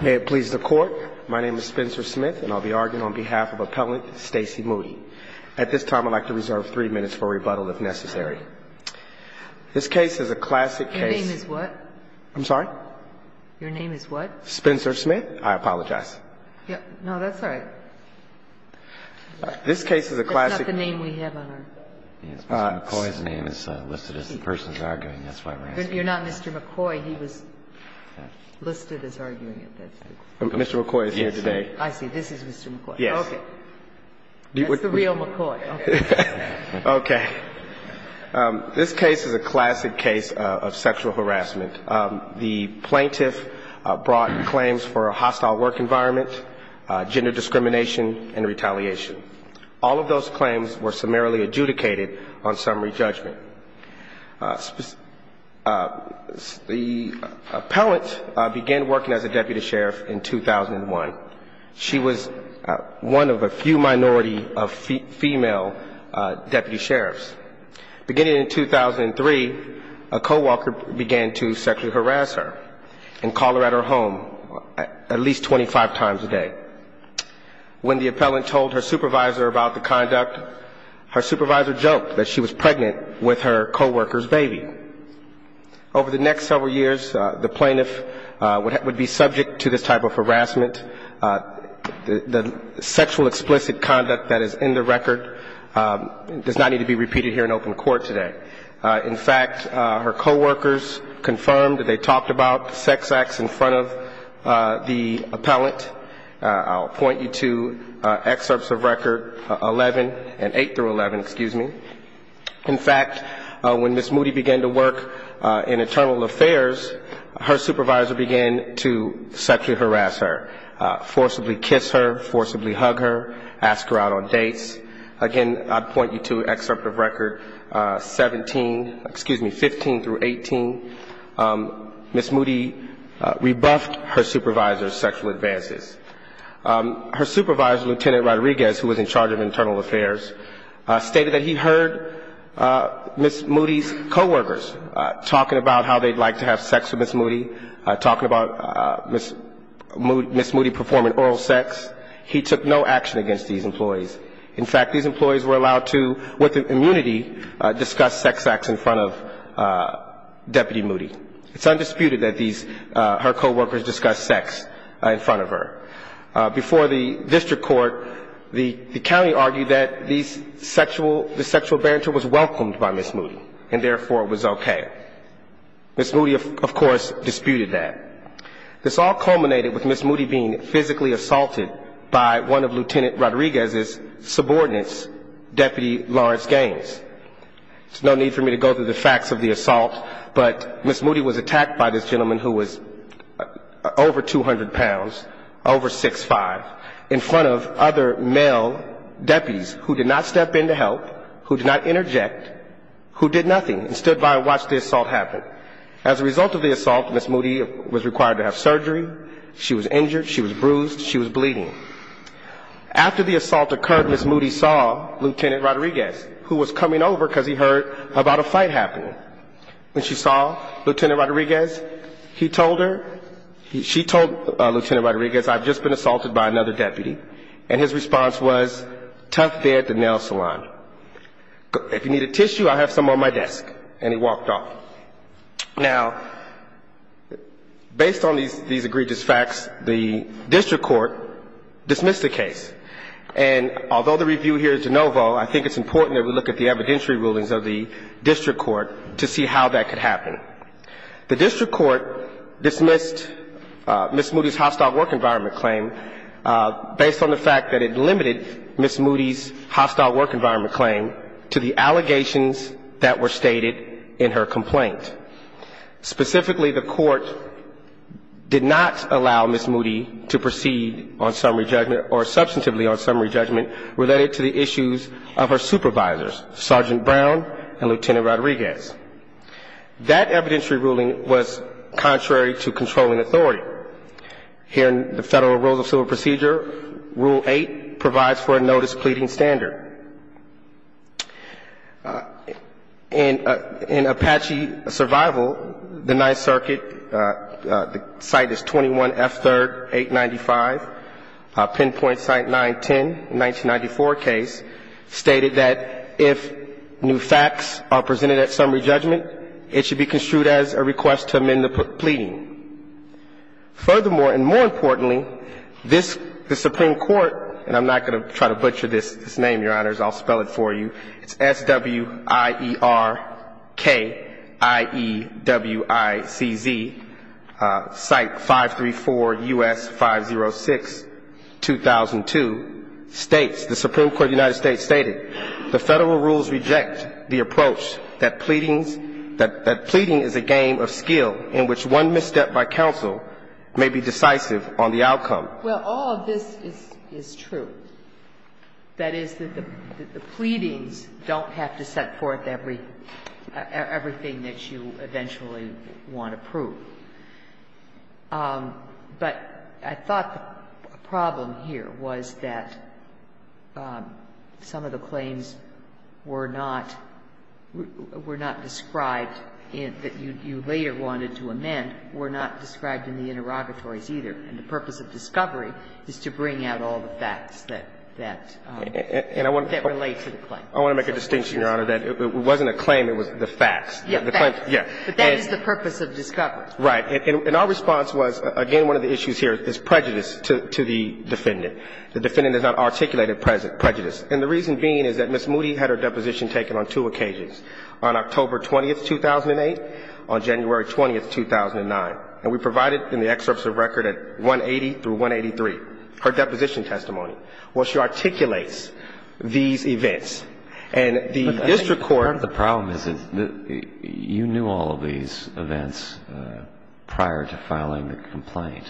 May it please the Court, my name is Spencer Smith and I'll be arguing on behalf of Appellant Stacey Moody. At this time I'd like to reserve three minutes for rebuttal if necessary. This case is a classic case... Your name is what? I'm sorry? Your name is what? Spencer Smith, I apologize. No, that's all right. This case is a classic... That's not the name we have on our... McCoy's name is listed as the person who's arguing, that's why we're asking. You're not Mr. McCoy, he was listed as arguing. Mr. McCoy is here today. I see, this is Mr. McCoy. Yes. Okay. That's the real McCoy. Okay. This case is a classic case of sexual harassment. The plaintiff brought claims for a hostile work environment, gender discrimination and retaliation. All of those claims were summarily adjudicated on summary judgment. The appellant began working as a deputy sheriff in 2001. She was one of a few minority of female deputy sheriffs. Beginning in 2003, a co-worker began to sexually harass her and call her at her home at least 25 times a day. When the appellant told her supervisor about the conduct, her supervisor joked that she was pregnant with her co-worker's baby. Over the next several years, the plaintiff would be subject to this type of harassment. The sexual explicit conduct that is in the record does not need to be repeated here in open court today. In fact, her co-workers confirmed that they talked about sex acts in front of the appellant. I'll point you to excerpts of record 11 and 8 through 11, excuse me. In fact, when Ms. Moody began to work in internal affairs, her supervisor began to sexually harass her, forcibly kiss her, forcibly hug her, ask her out on dates. Again, I'd point you to excerpt of record 17, excuse me, 15 through 18. Ms. Moody rebuffed her supervisor's sexual advances. Her supervisor, Lieutenant Rodriguez, who was in charge of internal affairs, stated that he heard Ms. Moody's co-workers talking about how they'd like to have sex with Ms. Moody, talking about Ms. Moody performing oral sex. He took no action against these employees. In fact, these employees were allowed to, with immunity, discuss sex acts in front of Deputy Moody. It's undisputed that her co-workers discussed sex in front of her. Before the district court, the county argued that this sexual banter was welcomed by Ms. Moody, and therefore it was okay. Ms. Moody, of course, disputed that. This all culminated with Ms. Moody being physically assaulted by one of Lieutenant Rodriguez's subordinates, Deputy Lawrence Gaines. There's no need for me to go through the facts of the assault, but Ms. Moody was attacked by this gentleman who was over 200 pounds, over 6'5", in front of other male deputies who did not step in to help, who did not interject, who did nothing, and stood by and watched the assault happen. As a result of the assault, Ms. Moody was required to have surgery, she was injured, she was bruised, she was bleeding. After the assault occurred, Ms. Moody saw Lieutenant Rodriguez, who was coming over because he heard about a fight happening. When she saw Lieutenant Rodriguez, he told her, she told Lieutenant Rodriguez, I've just been assaulted by another deputy, and his response was, tough day at the nail salon. If you need a tissue, I have some on my desk, and he walked off. Now, based on these egregious facts, the district court dismissed the case, and although the review here is de novo, I think it's important that we look at the evidentiary rulings of the district court to see how that could happen. The district court dismissed Ms. Moody's hostile work environment claim based on the fact that it limited Ms. Moody's hostile work environment. claim to the allegations that were stated in her complaint. Specifically, the court did not allow Ms. Moody to proceed on summary judgment, or substantively on summary judgment, related to the issues of her supervisors, Sergeant Brown and Lieutenant Rodriguez. That evidentiary ruling was contrary to controlling authority. Here in the Federal Rules of Civil Procedure, Rule 8 provides for a notice pleading standard. In Apache Survival, the Ninth Circuit, the site is 21F3rd 895, pinpoint site 910, 1994 case, stated that if new facts are presented at summary judgment, it should be construed as a request to amend the pleading. Furthermore, and more importantly, this, the Supreme Court, and I'm not going to try to butcher this name, Your Honors, I'll spell it for you, it's S-W-I-E-R-K-I-E-W-I-C-Z, site 534 U.S. 506, 2002, states, the Supreme Court of the United States stated, the Federal Rules reject the approach that pleading is a game of skill in which one misstep by counsel may be decisive on the outcome. Sotomayor Well, all of this is true. That is, the pleadings don't have to set forth everything that you eventually want to prove. But I thought the problem here was that some of the claims were not, were not described in, that you later wanted to amend, were not described in the interrogatories either. And the purpose of discovery is to bring out all the facts that, that, that relate to the claim. So it's just not true. Murphy I want to make a distinction, Your Honor, that it wasn't a claim, it was the facts. The claim, yes. Sotomayor But that is the purpose of discovery. Murphy Right. And our response was, again, one of the issues here is prejudice to the defendant. The defendant has not articulated prejudice. And the reason being is that Ms. Moody had her deposition taken on two occasions, on October 20, 2008, on January 20, 2009. And we provided in the excerpts of record at 180 through 183, her deposition testimony. Well, she articulates these events. And the district court ---- Alito The problem is that you knew all of these events prior to filing the complaint.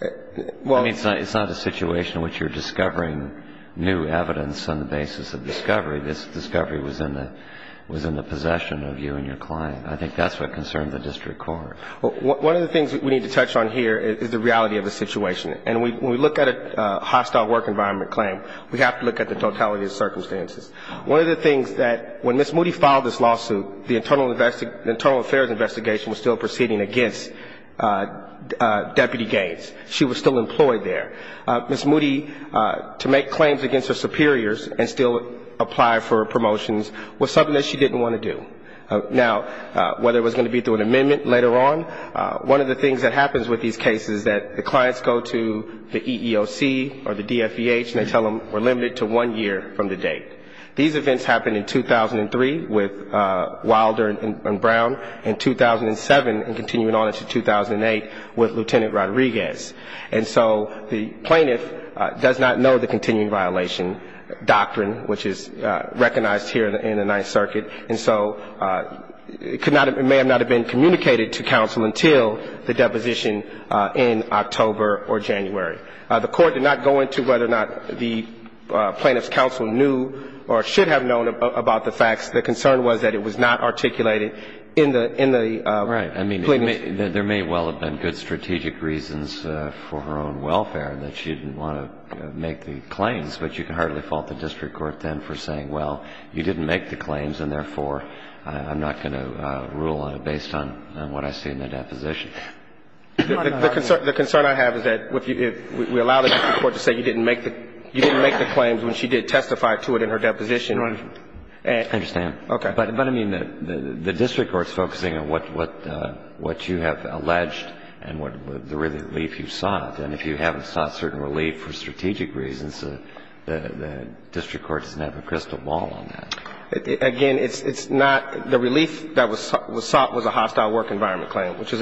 I mean, it's not a situation in which you're discovering new evidence on the basis of discovery. This discovery was in the, was in the possession of you and your client. I think that's what concerns the district court. One of the things that we need to touch on here is the reality of the situation. And when we look at a hostile work environment claim, we have to look at the totality of the circumstances. One of the things that when Ms. Moody filed this lawsuit, the internal affairs investigation was still proceeding against Deputy Gates. She was still employed there. Ms. Moody, to make claims against her superiors and still apply for promotions, was something that she didn't want to do. Now, whether it was going to be through an amendment later on, one of the things that happens with these cases is that the clients go to the EEOC or the DFVH and they tell them we're limited to one year from the date. These events happened in 2003 with Wilder and Brown, and 2007 and continuing on into 2008 with Lieutenant Rodriguez. And so the plaintiff does not know the continuing violation doctrine, which is recognized here in the Ninth Circuit. And so it may not have been communicated to counsel until the deposition in October or January. The Court did not go into whether or not the plaintiff's counsel knew or should have known about the facts. The concern was that it was not articulated in the plea. Right. I mean, there may well have been good strategic reasons for her own welfare that she didn't want to make the claims, but you can hardly fault the district court then for saying, well, you didn't make the claims and, therefore, I'm not going to rule on it based on what I see in the deposition. The concern I have is that if we allow the district court to say you didn't make the claims when she did testify to it in her deposition. Right. I understand. Okay. But, I mean, the district court is focusing on what you have alleged and the relief you sought, and if you haven't sought certain relief for strategic reasons, the district court doesn't have a crystal ball on that. Again, it's not the relief that was sought was a hostile work environment claim, which was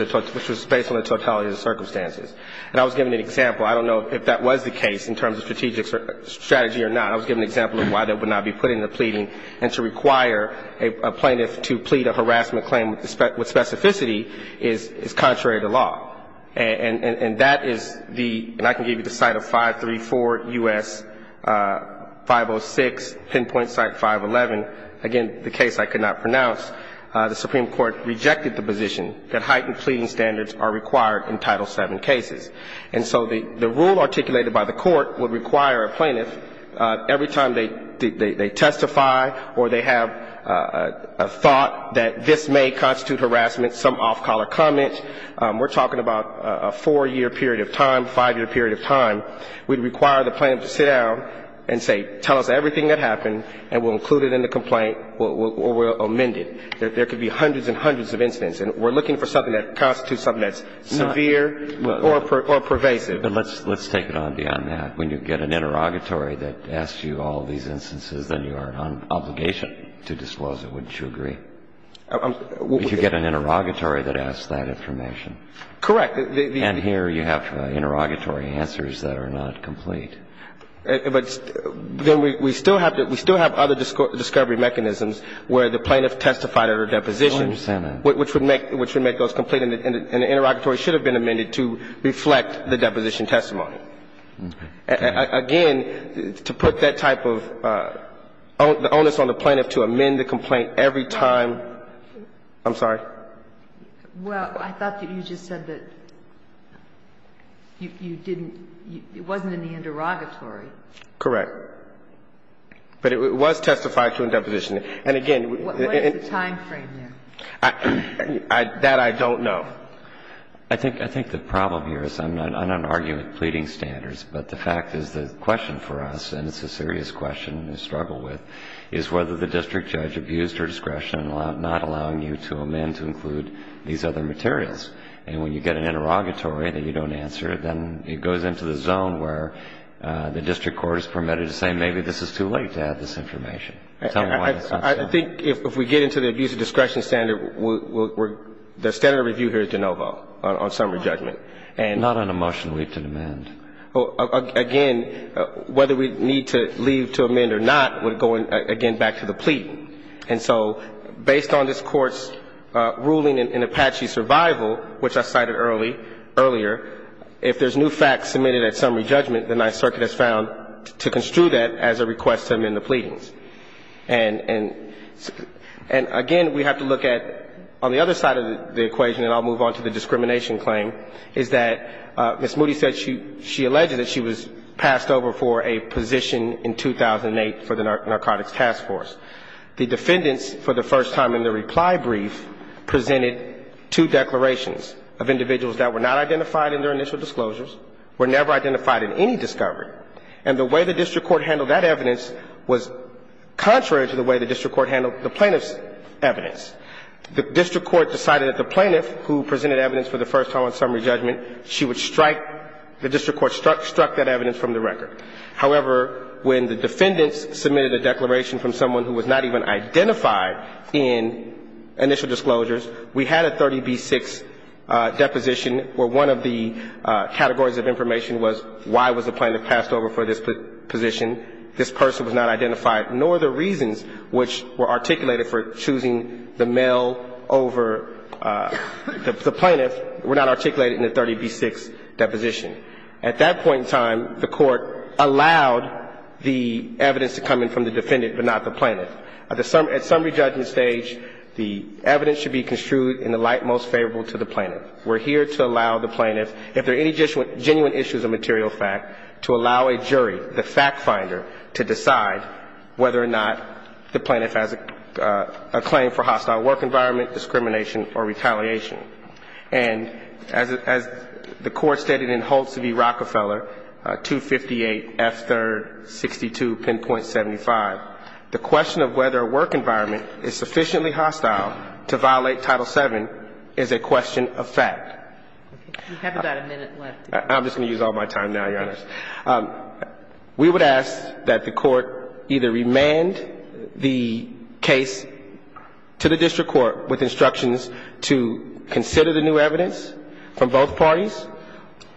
based on the totality of the circumstances. And I was giving an example. I don't know if that was the case in terms of strategic strategy or not. I was giving an example of why that would not be put in the pleading. And to require a plaintiff to plead a harassment claim with specificity is contrary to law. And that is the, and I can give you the site of 534 U.S. 506, pinpoint site 511. Again, the case I could not pronounce. The Supreme Court rejected the position that heightened pleading standards are required in Title VII cases. And so the rule articulated by the court would require a plaintiff every time they testify or they have a thought that this may constitute harassment, some off-collar comment. We're talking about a four-year period of time, five-year period of time. We'd require the plaintiff to sit down and say, tell us everything that happened, and we'll include it in the complaint or we'll amend it. There could be hundreds and hundreds of incidents. And we're looking for something that constitutes something that's severe or pervasive. But let's take it on beyond that. When you get an interrogatory that asks you all these instances, then you are on obligation to disclose it, wouldn't you agree? If you get an interrogatory that asks that information. Correct. And here you have interrogatory answers that are not complete. But then we still have other discovery mechanisms where the plaintiff testified at her deposition. I understand that. Which would make those complete, and the interrogatory should have been amended to reflect the deposition testimony. Again, to put that type of onus on the plaintiff to amend the complaint every time. I'm sorry? Well, I thought that you just said that you didn't, it wasn't in the interrogatory. Correct. But it was testified to in deposition. And again. What is the timeframe there? That I don't know. I think the problem here is, I'm not arguing with pleading standards, but the fact is the question for us, and it's a serious question we struggle with, is whether the district judge abused her discretion in not allowing you to amend to include these other materials. And when you get an interrogatory that you don't answer, then it goes into the zone where the district court is permitted to say maybe this is too late to add this information. Tell me why that's not so. I think if we get into the abuse of discretion standard, the standard of review here is de novo on summary judgment. Not on a motion we have to amend. Again, whether we need to leave to amend or not would go, again, back to the plea. And so based on this Court's ruling in Apache survival, which I cited earlier, if there's new facts submitted at summary judgment, the Ninth Circuit has found to construe that as a request to amend the pleadings. And again, we have to look at on the other side of the equation, and I'll move on to the discrimination claim, is that Ms. Moody said she alleged that she was passed over for a position in 2008 for the narcotics task force. The defendants, for the first time in the reply brief, presented two declarations of individuals that were not identified in their initial disclosures, were never identified in any discovery. And the way the district court handled that evidence was contrary to the way the district court handled the plaintiff's evidence. The district court decided that the plaintiff who presented evidence for the first time on summary judgment, she would strike the district court struck that evidence from the record. However, when the defendants submitted a declaration from someone who was not even identified in initial disclosures, we had a 30b-6 deposition where one of the categories of information was why was the plaintiff passed over for this position. This person was not identified, nor the reasons which were articulated for choosing the male over the plaintiff were not articulated in the 30b-6 deposition. At that point in time, the Court allowed the evidence to come in from the defendant, but not the plaintiff. At the summary judgment stage, the evidence should be construed in the light most favorable to the plaintiff. We're here to allow the plaintiff, if there are any genuine issues of material fact, to allow a jury, the fact finder, to decide whether or not the plaintiff has a claim for hostile work environment, discrimination, or retaliation. And as the Court stated in Holtz v. Rockefeller, 258F3-62, 10.75, the question of whether a work environment is sufficiently hostile to violate Title VII is a question of fact. You have about a minute left. I'm just going to use all my time now, Your Honor. We would ask that the Court either remand the case to the district court with instructions to consider the new evidence from both parties.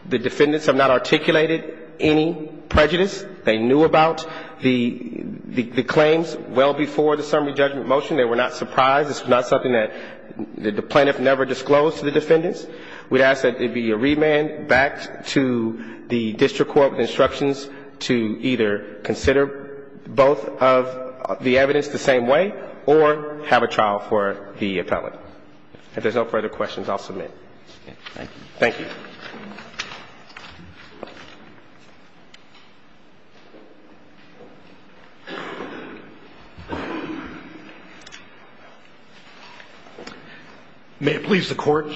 The defendants have not articulated any prejudice they knew about. The claims well before the summary judgment motion, they were not surprised. It's not something that the plaintiff never disclosed to the defendants. We'd ask that it be remanded back to the district court with instructions to either consider both of the evidence the same way or have a trial for the appellant. If there's no further questions, I'll submit. Thank you. May it please the Court.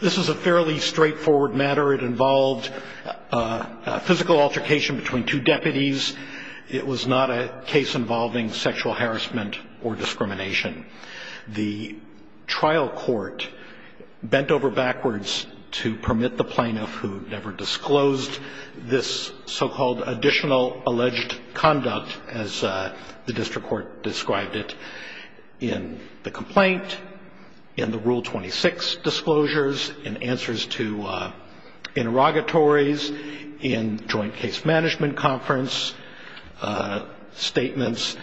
This is a fairly straightforward matter. It involved physical altercation between two deputies. It was not a case involving sexual harassment or discrimination. The trial court bent over backwards to permit the plaintiff, who never disclosed this so-called additional alleged conduct, as the district court described it in the complaint, in the Rule 26 disclosures, in answers to interrogatories, in joint case management conference statements.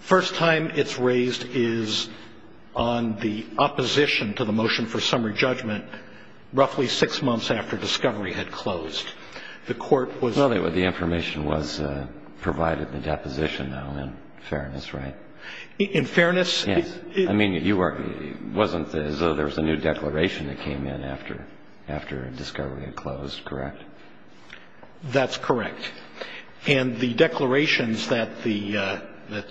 First time it's raised is on the opposition to the motion for summary judgment roughly six months after discovery had closed. The court was... Well, the information was provided in the deposition, though, in fairness, right? In fairness... Yes. I mean, it wasn't as though there was a new declaration that came in after discovery had closed, correct? That's correct. And the declarations that the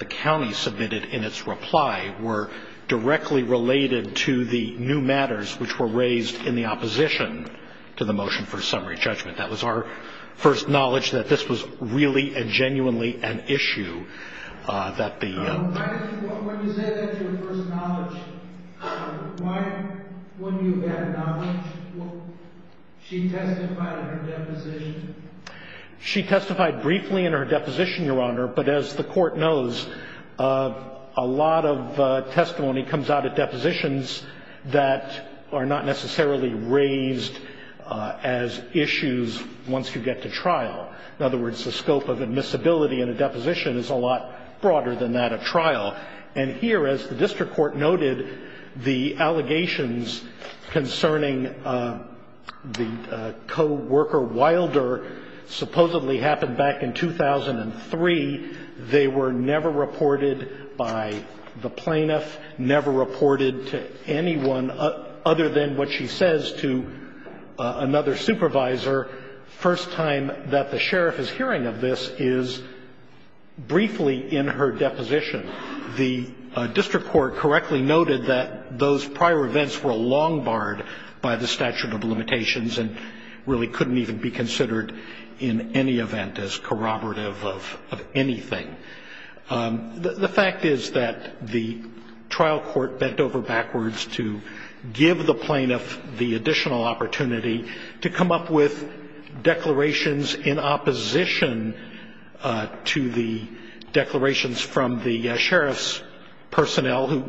county submitted in its reply were directly related to the new matters which were raised in the opposition to the motion for summary judgment. That was our first knowledge that this was really and genuinely an issue that the... When you say that's your first knowledge, why wouldn't you add knowledge? She testified in her deposition. She testified briefly in her deposition, Your Honor, but as the court knows, a lot of testimony comes out at depositions that are not necessarily raised as issues once you get to trial. In other words, the scope of admissibility in a deposition is a lot broader than that of trial. And here, as the district court noted, the allegations concerning the co-worker Wilder supposedly happened back in 2003. They were never reported by the plaintiff, never reported to anyone other than what she says to another supervisor. The first time that the sheriff is hearing of this is briefly in her deposition. The district court correctly noted that those prior events were long barred by the statute of limitations and really couldn't even be considered in any event as corroborative of anything. The fact is that the trial court bent over backwards to give the plaintiff the additional opportunity to come up with declarations in opposition to the declarations from the sheriff's personnel who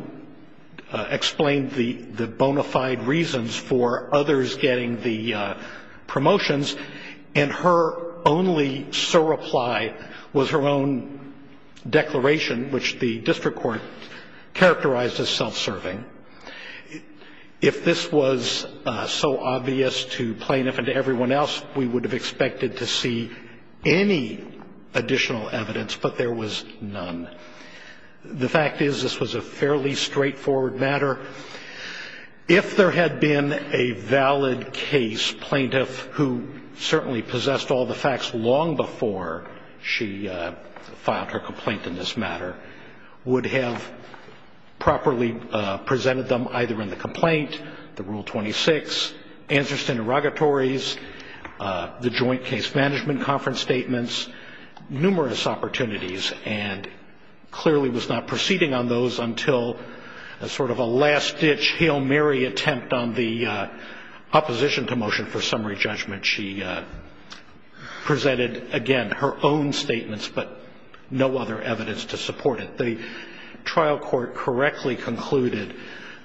explained the bona fide reasons for others getting the promotions, and her only surreply was her own declaration, which the district court characterized as self-serving. If this was so obvious to plaintiff and to everyone else, we would have expected to see any additional evidence, but there was none. The fact is this was a fairly straightforward matter. If there had been a valid case, plaintiff, who certainly possessed all the facts long before she filed her complaint in this matter, would have properly presented them either in the complaint, the Rule 26, answers to interrogatories, the joint case management conference statements, numerous opportunities, and clearly was not proceeding on those until sort of a last-ditch Hail Mary attempt on the opposition to motion for summary judgment. She presented, again, her own statements, but no other evidence to support it. The trial court correctly concluded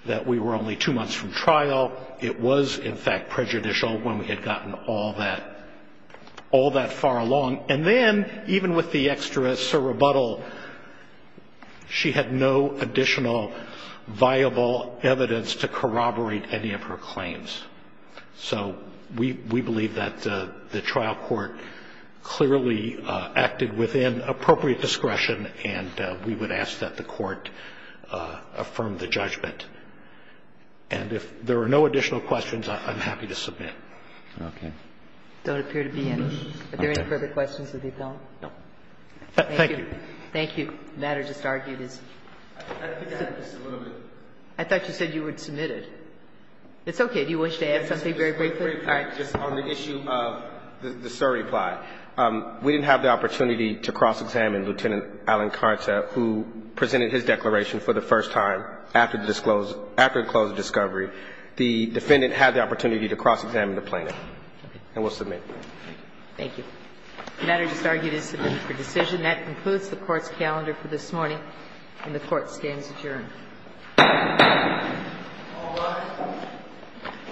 that we were only two months from trial. It was, in fact, prejudicial when we had gotten all that far along. And then, even with the extra surrebuttal, she had no additional viable evidence to corroborate any of her claims. So we believe that the trial court clearly acted within appropriate discretion, and we would ask that the court affirm the judgment. And if there are no additional questions, I'm happy to submit. Okay. Don't appear to be any. Are there any further questions of the appellant? No. Thank you. Thank you. The matter just argued is. I thought you said you would submit it. It's okay. Did you wish to add something very briefly? Just on the issue of the surreply. We didn't have the opportunity to cross-examine Lieutenant Allen Karnsa, who presented his declaration for the first time after the disclosure of discovery. The defendant had the opportunity to cross-examine the plaintiff. And we'll submit. Thank you. The matter just argued is submitted for decision. That concludes the Court's calendar for this morning, and the Court stands adjourned. All rise.